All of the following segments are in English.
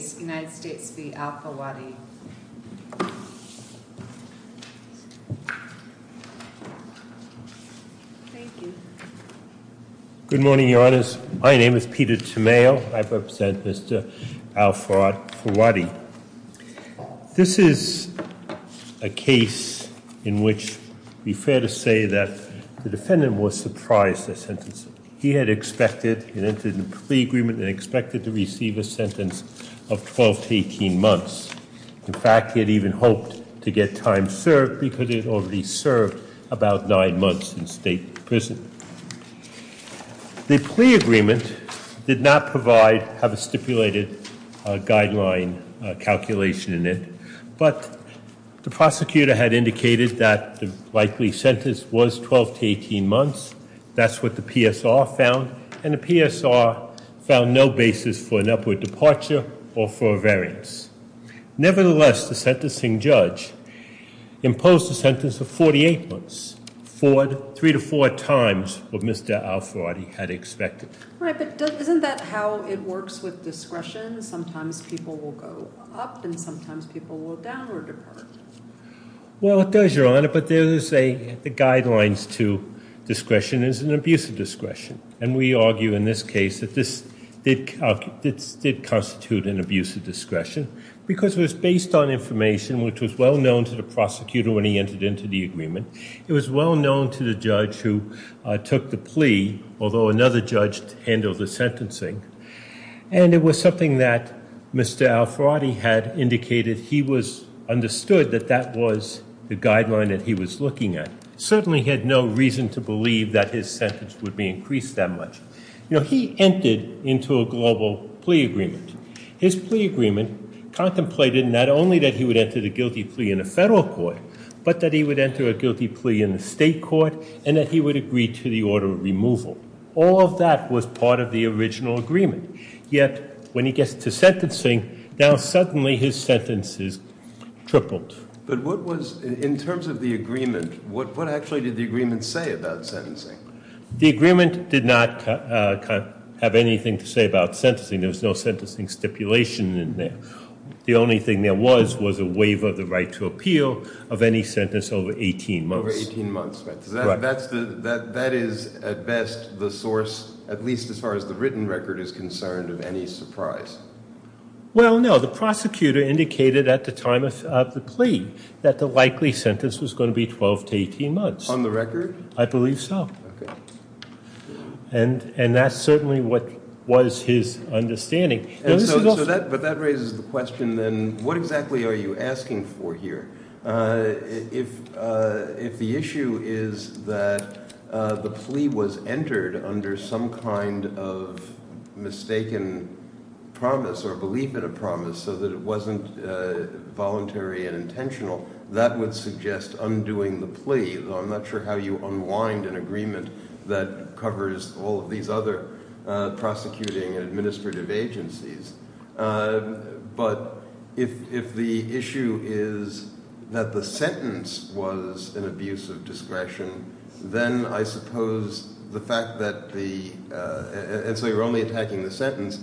Good morning, Your Honours. My name is Peter Tamayo. I represent Mr. Al Fawadi. This is a case in which it would be fair to say that the defendant was surprised by the sentence. He had expected and entered in a plea agreement and expected to receive a sentence of 12 to 18 months. In fact, he had even hoped to get time served because he had already served about nine months in state prison. The plea agreement did not have a stipulated guideline calculation in it, but the prosecutor had indicated that the likely sentence was 12 to 18 months. That's what the PSR found, and the PSR found no basis for an upward departure or for a variance. Nevertheless, the sentencing judge imposed a sentence of 48 months, three to four times what Mr. Al Fawadi had expected. Right, but isn't that how it works with discretion? Sometimes people will go up, and sometimes people will downward depart. Well, it does, Your Honour, but the guidelines to discretion is an abuse of discretion, and we argue in this case that this did constitute an abuse of discretion because it was based on information which was well known to the prosecutor when he entered into the agreement. It was well known to the judge who took the plea, although another judge handled the sentencing, and it was something that Mr. Al Fawadi had indicated he understood that that was the guideline that he was looking at. Certainly he had no reason to believe that his sentence would be increased that much. You know, he entered into a global plea agreement. His plea agreement contemplated not only that he would enter the guilty plea in a federal court, but that he would enter a guilty plea in the state court, and that he would agree to the order of removal. All of that was part of the original agreement, yet when he gets to sentencing, now suddenly his sentence is tripled. But what was, in terms of the agreement, what actually did the agreement say about sentencing? The agreement did not have anything to say about sentencing. There was no sentencing stipulation in there. The only thing there was was a waiver of the right to appeal of any sentence over 18 months. Over 18 months, right. That is, at best, the source, at least as far as the written record is concerned, of any surprise. Well, no. The prosecutor indicated at the time of the plea that the likely sentence was going to be 12 to 18 months. On the record? I believe so. Okay. And that's certainly what was his understanding. But that raises the question then what exactly are you asking for here? If the issue is that the plea was entered under some kind of mistaken promise or belief in a promise so that it wasn't voluntary and intentional, that would suggest undoing the plea. I'm not sure how you unwind an agreement that covers all of these other prosecuting and administrative agencies. But if the issue is that the sentence was an abuse of discretion, then I suppose the fact that the – and so you're only attacking the sentence.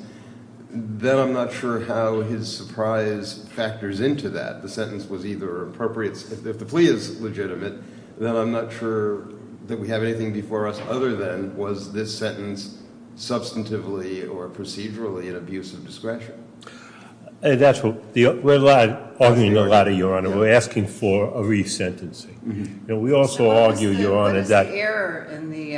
Then I'm not sure how his surprise factors into that. If the plea is legitimate, then I'm not sure that we have anything before us other than was this sentence substantively or procedurally an abuse of discretion? We're arguing a lot, Your Honor. We're asking for a resentencing. We also argue, Your Honor, that – What is the error in the –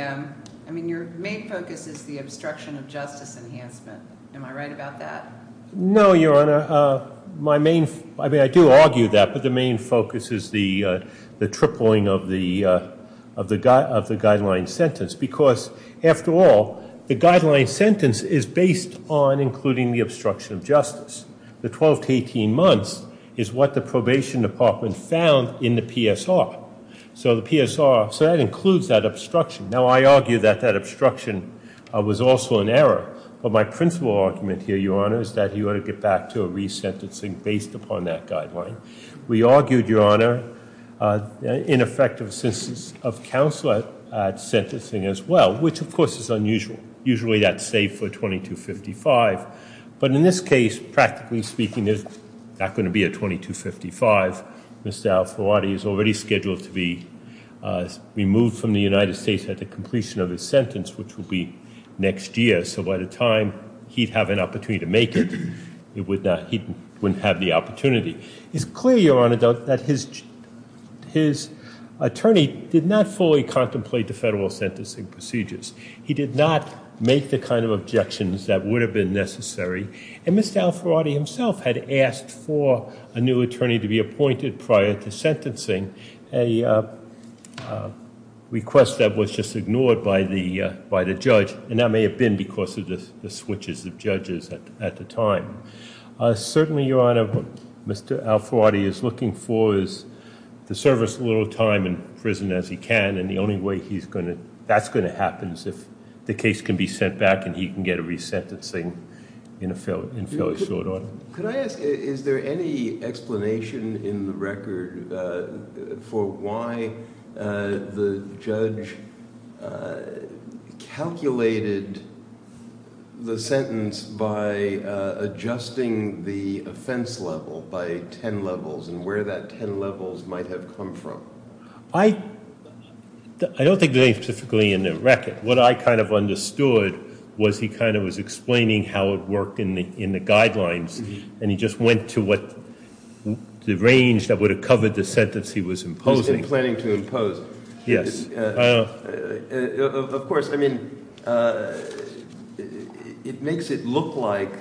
I mean, your main focus is the obstruction of justice enhancement. Am I right about that? No, Your Honor. My main – I mean, I do argue that. But the main focus is the tripling of the guideline sentence because, after all, the guideline sentence is based on including the obstruction of justice. The 12 to 18 months is what the probation department found in the PSR. So the PSR – so that includes that obstruction. Now, I argue that that obstruction was also an error. But my principal argument here, Your Honor, is that you ought to get back to a resentencing based upon that guideline. We argued, Your Honor, in effect, of counsel at sentencing as well, which, of course, is unusual. Usually that's saved for a 2255. But in this case, practically speaking, there's not going to be a 2255. Mr. Al-Fawadi is already scheduled to be removed from the United States at the completion of his sentence, which will be next year. So by the time he'd have an opportunity to make it, he wouldn't have the opportunity. It's clear, Your Honor, though, that his attorney did not fully contemplate the federal sentencing procedures. He did not make the kind of objections that would have been necessary. And Mr. Al-Fawadi himself had asked for a new attorney to be appointed prior to sentencing, a request that was just ignored by the judge. And that may have been because of the switches of judges at the time. Certainly, Your Honor, what Mr. Al-Fawadi is looking for is to serve as little time in prison as he can. And the only way that's going to happen is if the case can be sent back and he can get a resentencing in a fairly short order. Could I ask, is there any explanation in the record for why the judge calculated the sentence by adjusting the offense level by 10 levels and where that 10 levels might have come from? I don't think there's anything specifically in the record. What I kind of understood was he kind of was explaining how it worked in the guidelines, and he just went to what the range that would have covered the sentence he was imposing. He's been planning to impose. Yes. Of course, I mean, it makes it look like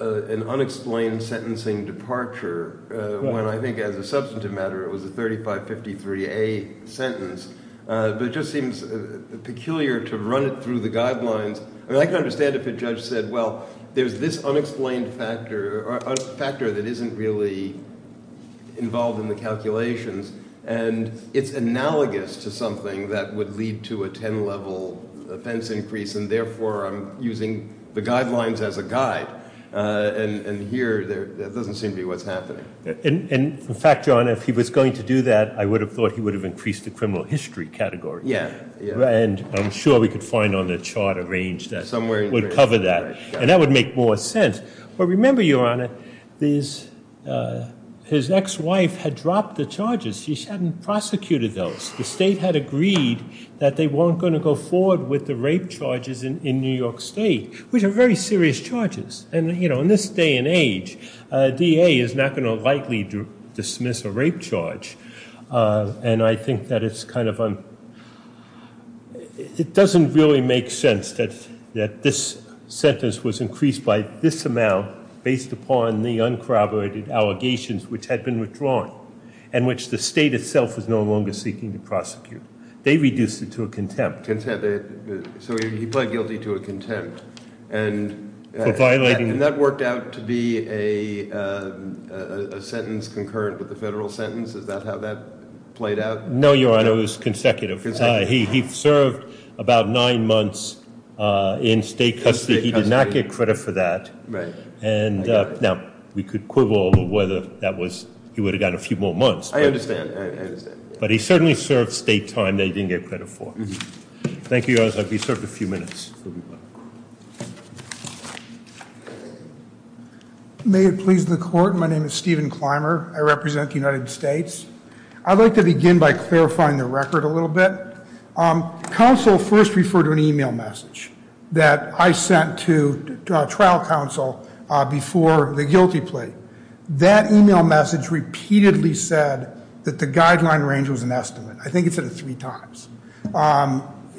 an unexplained sentencing departure when I think as a substantive matter it was a 3553A sentence. But it just seems peculiar to run it through the guidelines. I mean, I can understand if a judge said, well, there's this unexplained factor or factor that isn't really involved in the calculations. And it's analogous to something that would lead to a 10 level offense increase. And therefore, I'm using the guidelines as a guide. And here, that doesn't seem to be what's happening. And in fact, Your Honor, if he was going to do that, I would have thought he would have increased the criminal history category. Yeah. And I'm sure we could find on the charter range that would cover that. And that would make more sense. But remember, Your Honor, his ex-wife had dropped the charges. She hadn't prosecuted those. The state had agreed that they weren't going to go forward with the rape charges in New York State, which are very serious charges. And in this day and age, a DA is not going to likely dismiss a rape charge. And I think that it doesn't really make sense that this sentence was increased by this amount based upon the uncorroborated allegations which had been withdrawn and which the state itself is no longer seeking to prosecute. They reduced it to a contempt. So he pled guilty to a contempt. For violating it. And that worked out to be a sentence concurrent with the federal sentence? Is that how that played out? No, Your Honor. It was consecutive. He served about nine months in state custody. He did not get credit for that. Right. Now, we could quibble whether he would have gotten a few more months. I understand. Thank you, Your Honor. He served a few minutes. May it please the Court, my name is Stephen Clymer. I represent the United States. I'd like to begin by clarifying the record a little bit. Counsel first referred to an e-mail message that I sent to trial counsel before the guilty plea. That e-mail message repeatedly said that the guideline range was an estimate. I think it said it three times.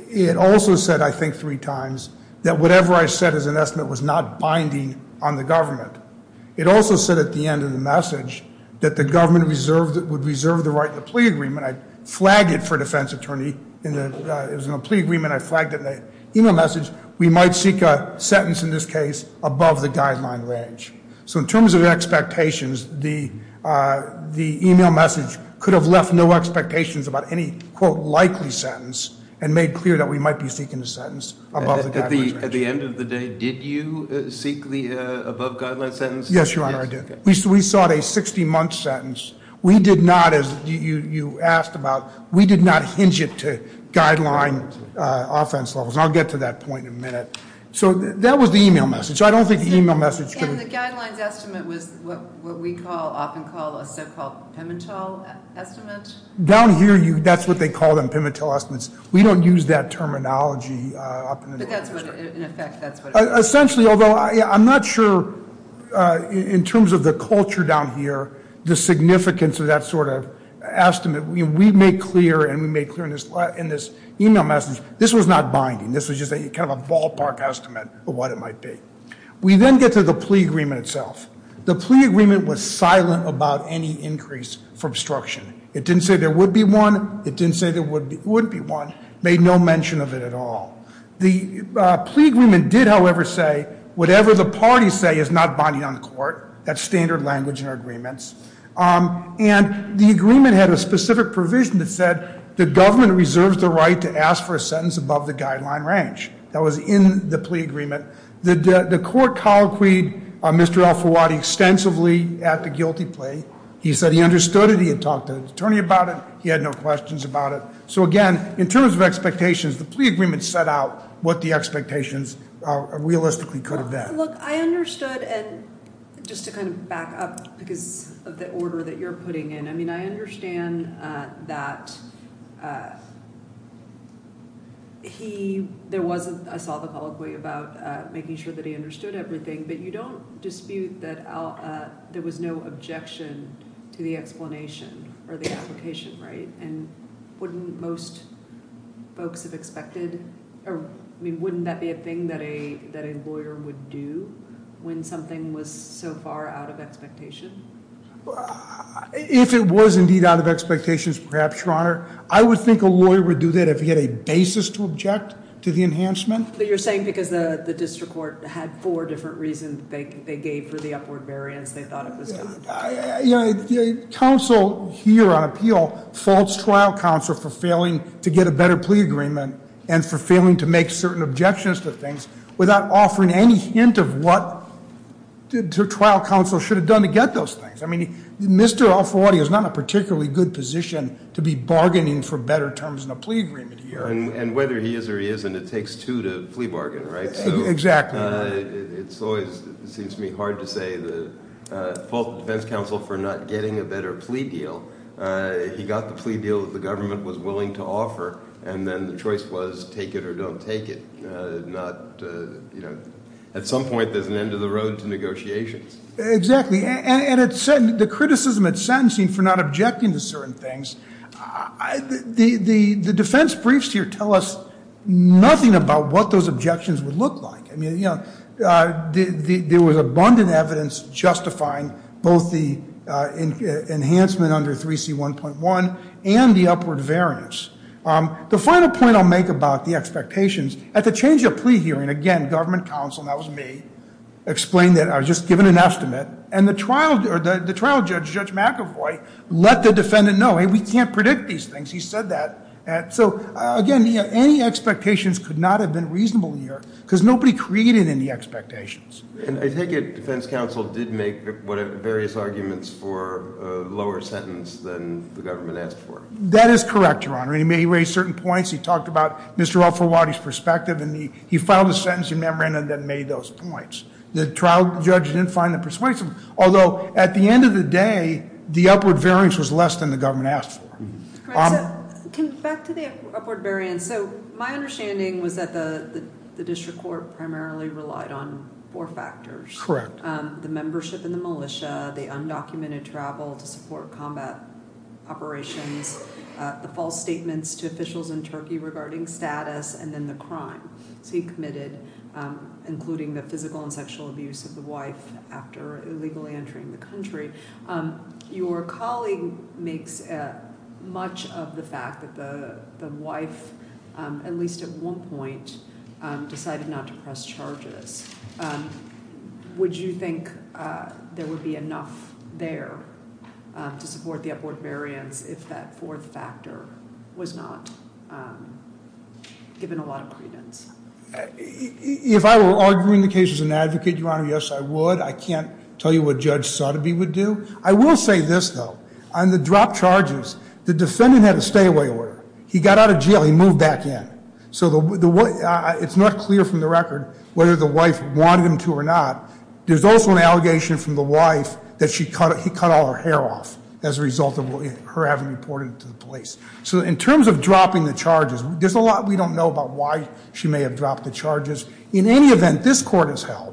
It also said, I think, three times, that whatever I said as an estimate was not binding on the government. It also said at the end of the message that the government would reserve the right in the plea agreement. I flagged it for defense attorney. It was in a plea agreement. I flagged it in the e-mail message. We might seek a sentence in this case above the guideline range. So in terms of expectations, the e-mail message could have left no expectations about any, quote, likely sentence and made clear that we might be seeking a sentence above the guideline range. At the end of the day, did you seek the above guideline sentence? Yes, Your Honor, I did. We sought a 60-month sentence. We did not, as you asked about, we did not hinge it to guideline offense levels. And I'll get to that point in a minute. So that was the e-mail message. So I don't think the e-mail message could have. And the guidelines estimate was what we call, often call, a so-called Pimentel estimate? Down here, that's what they call them, Pimentel estimates. We don't use that terminology up in the Northern District. But that's what, in effect, that's what it is. Essentially, although I'm not sure, in terms of the culture down here, the significance of that sort of estimate. We made clear, and we made clear in this e-mail message, this was not binding. This was just kind of a ballpark estimate of what it might be. We then get to the plea agreement itself. The plea agreement was silent about any increase for obstruction. It didn't say there would be one. It didn't say there wouldn't be one. Made no mention of it at all. The plea agreement did, however, say whatever the parties say is not binding on the court. That's standard language in our agreements. And the agreement had a specific provision that said the government reserves the right to ask for a sentence above the guideline range. That was in the plea agreement. The court colloquied Mr. Alfawati extensively at the guilty plea. He said he understood it. He had talked to the attorney about it. He had no questions about it. So, again, in terms of expectations, the plea agreement set out what the expectations realistically could have been. Look, I understood, and just to kind of back up because of the order that you're putting in. I mean, I understand that he – there was a – I saw the colloquy about making sure that he understood everything. But you don't dispute that there was no objection to the explanation or the application, right? And wouldn't most folks have expected – I mean, wouldn't that be a thing that a lawyer would do when something was so far out of expectation? If it was indeed out of expectations, perhaps, Your Honor. I would think a lawyer would do that if he had a basis to object to the enhancement. But you're saying because the district court had four different reasons they gave for the upward variance, they thought it was done. Counsel here on appeal faults trial counsel for failing to get a better plea agreement and for failing to make certain objections to things without offering any hint of what trial counsel should have done to get those things. I mean, Mr. Alfawadi is not in a particularly good position to be bargaining for better terms in a plea agreement here. And whether he is or he isn't, it takes two to plea bargain, right? Exactly. It always seems to me hard to say the fault of defense counsel for not getting a better plea deal. He got the plea deal that the government was willing to offer, and then the choice was take it or don't take it. At some point, there's an end of the road to negotiations. Exactly. And the criticism at sentencing for not objecting to certain things, the defense briefs here tell us nothing about what those objections would look like. There was abundant evidence justifying both the enhancement under 3C1.1 and the upward variance. The final point I'll make about the expectations, at the change of plea hearing, again, government counsel, and that was me, explained that I was just given an estimate, and the trial judge, Judge McAvoy, let the defendant know, hey, we can't predict these things. He said that. So, again, any expectations could not have been reasonable here, because nobody created any expectations. And I take it defense counsel did make various arguments for a lower sentence than the government asked for. That is correct, Your Honor. He may have raised certain points. He talked about Mr. Al-Farwadi's perspective, and he filed a sentencing memorandum that made those points. The trial judge didn't find them persuasive, although at the end of the day, the upward variance was less than the government asked for. Back to the upward variance. So my understanding was that the district court primarily relied on four factors. Correct. The membership in the militia, the undocumented travel to support combat operations, the false statements to officials in Turkey regarding status, and then the crime. So he committed including the physical and sexual abuse of the wife after illegally entering the country. Your colleague makes much of the fact that the wife, at least at one point, decided not to press charges. Would you think there would be enough there to support the upward variance if that fourth factor was not given a lot of credence? If I were arguing the case as an advocate, Your Honor, yes, I would. I can't tell you what Judge Sotheby would do. I will say this, though. On the dropped charges, the defendant had a stay-away order. He got out of jail. He moved back in. So it's not clear from the record whether the wife wanted him to or not. There's also an allegation from the wife that he cut all her hair off as a result of her having reported it to the police. So in terms of dropping the charges, there's a lot we don't know about why she may have dropped the charges. In any event, this court has held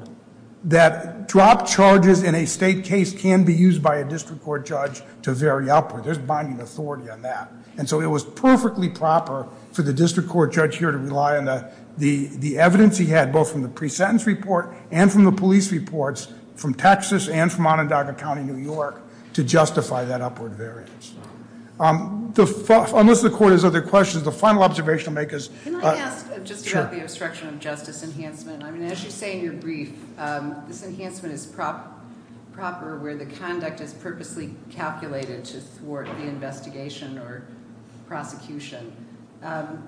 that dropped charges in a state case can be used by a district court judge to vary upward. There's binding authority on that. And so it was perfectly proper for the district court judge here to rely on the evidence he had, both from the pre-sentence report and from the police reports from Texas and from Onondaga County, New York, to justify that upward variance. Unless the court has other questions, the final observation I'll make is – Can I ask just about the obstruction of justice enhancement? I mean, as you say in your brief, this enhancement is proper where the conduct is purposely calculated to thwart the investigation or prosecution. And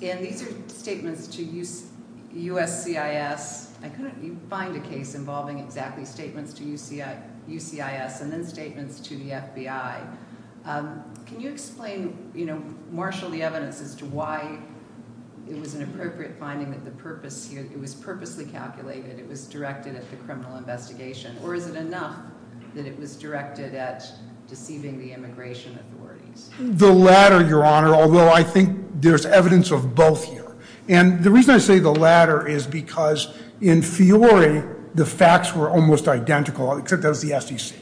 these are statements to USCIS. I couldn't find a case involving exactly statements to USCIS and then statements to the FBI. Can you explain, you know, marshal the evidence as to why it was an appropriate finding that the purpose here – it was purposely calculated, it was directed at the criminal investigation, or is it enough that it was directed at deceiving the immigration authorities? The latter, Your Honor, although I think there's evidence of both here. And the reason I say the latter is because, in theory, the facts were almost identical, except that was the SEC.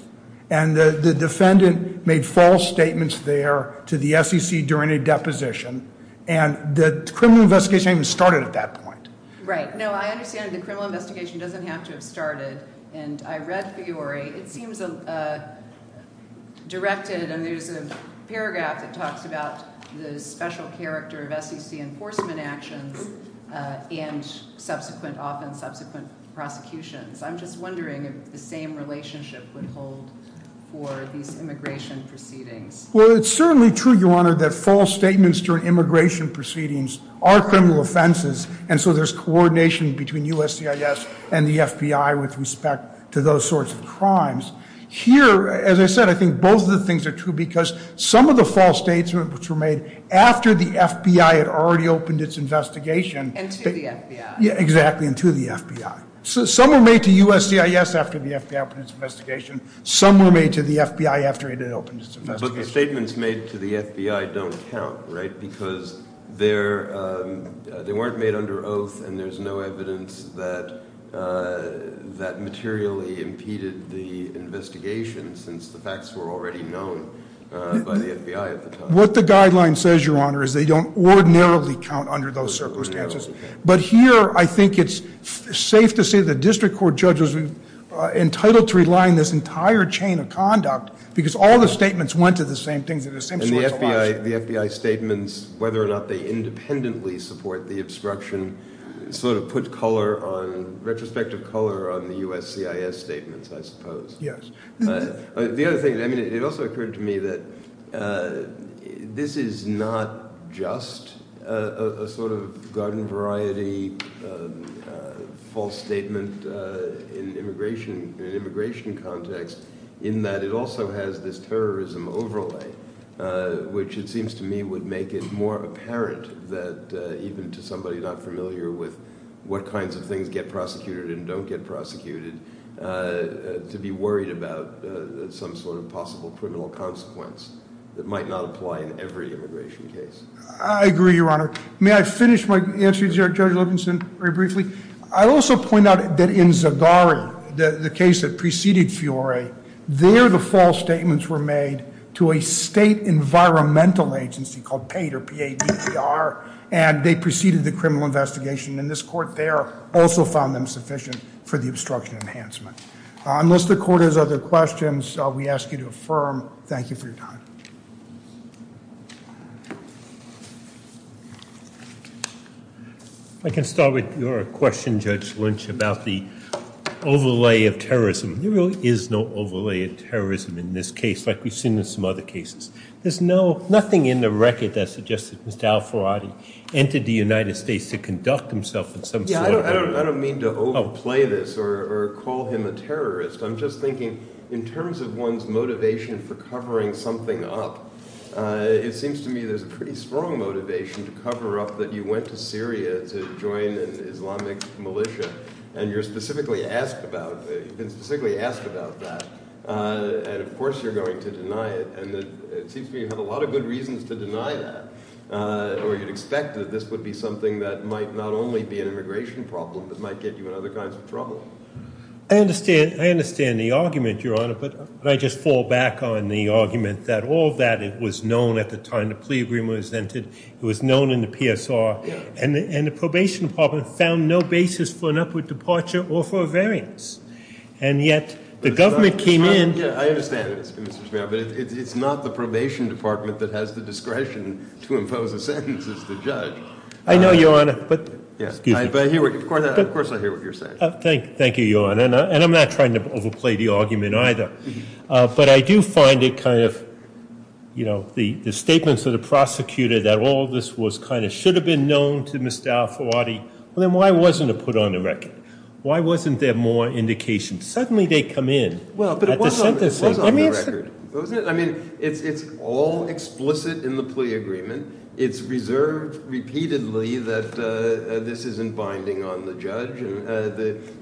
And the defendant made false statements there to the SEC during a deposition. And the criminal investigation hadn't even started at that point. Right. No, I understand the criminal investigation doesn't have to have started. And I read, Fiore, it seems directed – and there's a paragraph that talks about the special character of SEC enforcement actions and subsequent – often subsequent prosecutions. I'm just wondering if the same relationship would hold for these immigration proceedings. Well, it's certainly true, Your Honor, that false statements during immigration proceedings are criminal offenses. And so there's coordination between USCIS and the FBI with respect to those sorts of crimes. Here, as I said, I think both of the things are true because some of the false statements which were made after the FBI had already opened its investigation – And to the FBI. Yeah, exactly, and to the FBI. Some were made to USCIS after the FBI opened its investigation. Some were made to the FBI after it had opened its investigation. But the statements made to the FBI don't count, right, because they weren't made under oath, and there's no evidence that materially impeded the investigation since the facts were already known by the FBI at the time. What the guideline says, Your Honor, is they don't ordinarily count under those circumstances. But here I think it's safe to say the district court judge was entitled to rely on this entire chain of conduct because all the statements went to the same things and the same sorts of options. And the FBI statements, whether or not they independently support the obstruction, sort of put color on – retrospective color on the USCIS statements, I suppose. Yes. The other thing – I mean it also occurred to me that this is not just a sort of garden variety false statement in an immigration context in that it also has this terrorism overlay, which it seems to me would make it more apparent that even to somebody not familiar with what kinds of things get prosecuted and don't get prosecuted, to be worried about some sort of possible criminal consequence that might not apply in every immigration case. I agree, Your Honor. May I finish my answer to Judge Livingston very briefly? I'll also point out that in Zagari, the case that preceded Fiore, there the false statements were made to a state environmental agency called PAID, or P-A-I-D-D-R, and they preceded the criminal investigation. And this Court there also found them sufficient for the obstruction enhancement. Unless the Court has other questions, we ask you to affirm. Thank you for your time. I can start with your question, Judge Lynch, about the overlay of terrorism. There really is no overlay of terrorism in this case like we've seen in some other cases. There's nothing in the record that suggests that Mr. Al-Faradi entered the United States to conduct himself in some sort of way. I don't mean to overplay this or call him a terrorist. I'm just thinking in terms of one's motivation for covering something up, it seems to me there's a pretty strong motivation to cover up that you went to Syria to join an Islamic militia, and you've been specifically asked about that. And of course you're going to deny it. And it seems to me you have a lot of good reasons to deny that, or you'd expect that this would be something that might not only be an immigration problem, but might get you in other kinds of trouble. I understand the argument, Your Honor, but I just fall back on the argument that all that was known at the time the plea agreement was entered. It was known in the PSR. And the probation department found no basis for an upward departure or for a variance. And yet the government came in. Yeah, I understand, Mr. Chairman, but it's not the probation department that has the discretion to impose a sentence as the judge. I know, Your Honor. But of course I hear what you're saying. Thank you, Your Honor. And I'm not trying to overplay the argument either. But I do find it kind of, you know, the statements of the prosecutor that all this was kind of should have been known to Mr. Al-Faradi. Well, then why wasn't it put on the record? Why wasn't there more indication? Suddenly they come in at the sentencing. I mean, it's all explicit in the plea agreement. It's reserved repeatedly that this isn't binding on the judge. And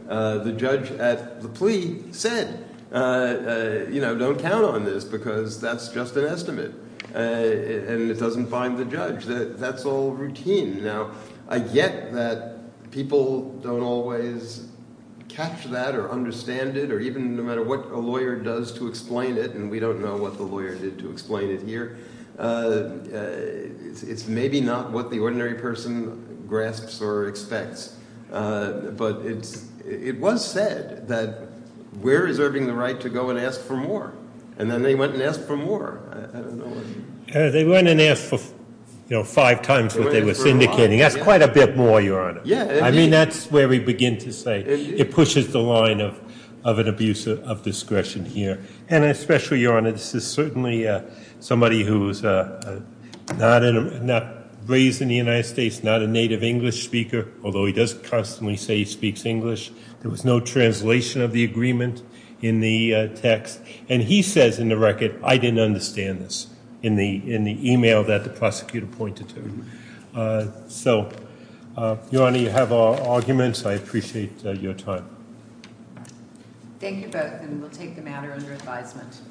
the judge at the plea said, you know, don't count on this because that's just an estimate. And it doesn't bind the judge. That's all routine. Now, I get that people don't always catch that or understand it or even no matter what a lawyer does to explain it, and we don't know what the lawyer did to explain it here. It's maybe not what the ordinary person grasps or expects. But it was said that we're reserving the right to go and ask for more. And then they went and asked for more. They went and asked for, you know, five times what they were syndicating. That's quite a bit more, Your Honor. I mean, that's where we begin to say it pushes the line of an abuse of discretion here. And especially, Your Honor, this is certainly somebody who's not raised in the United States, not a native English speaker, although he does constantly say he speaks English. There was no translation of the agreement in the text. And he says in the record, I didn't understand this in the email that the prosecutor pointed to. So, Your Honor, you have all arguments. I appreciate your time. Thank you both, and we'll take the matter under advisement.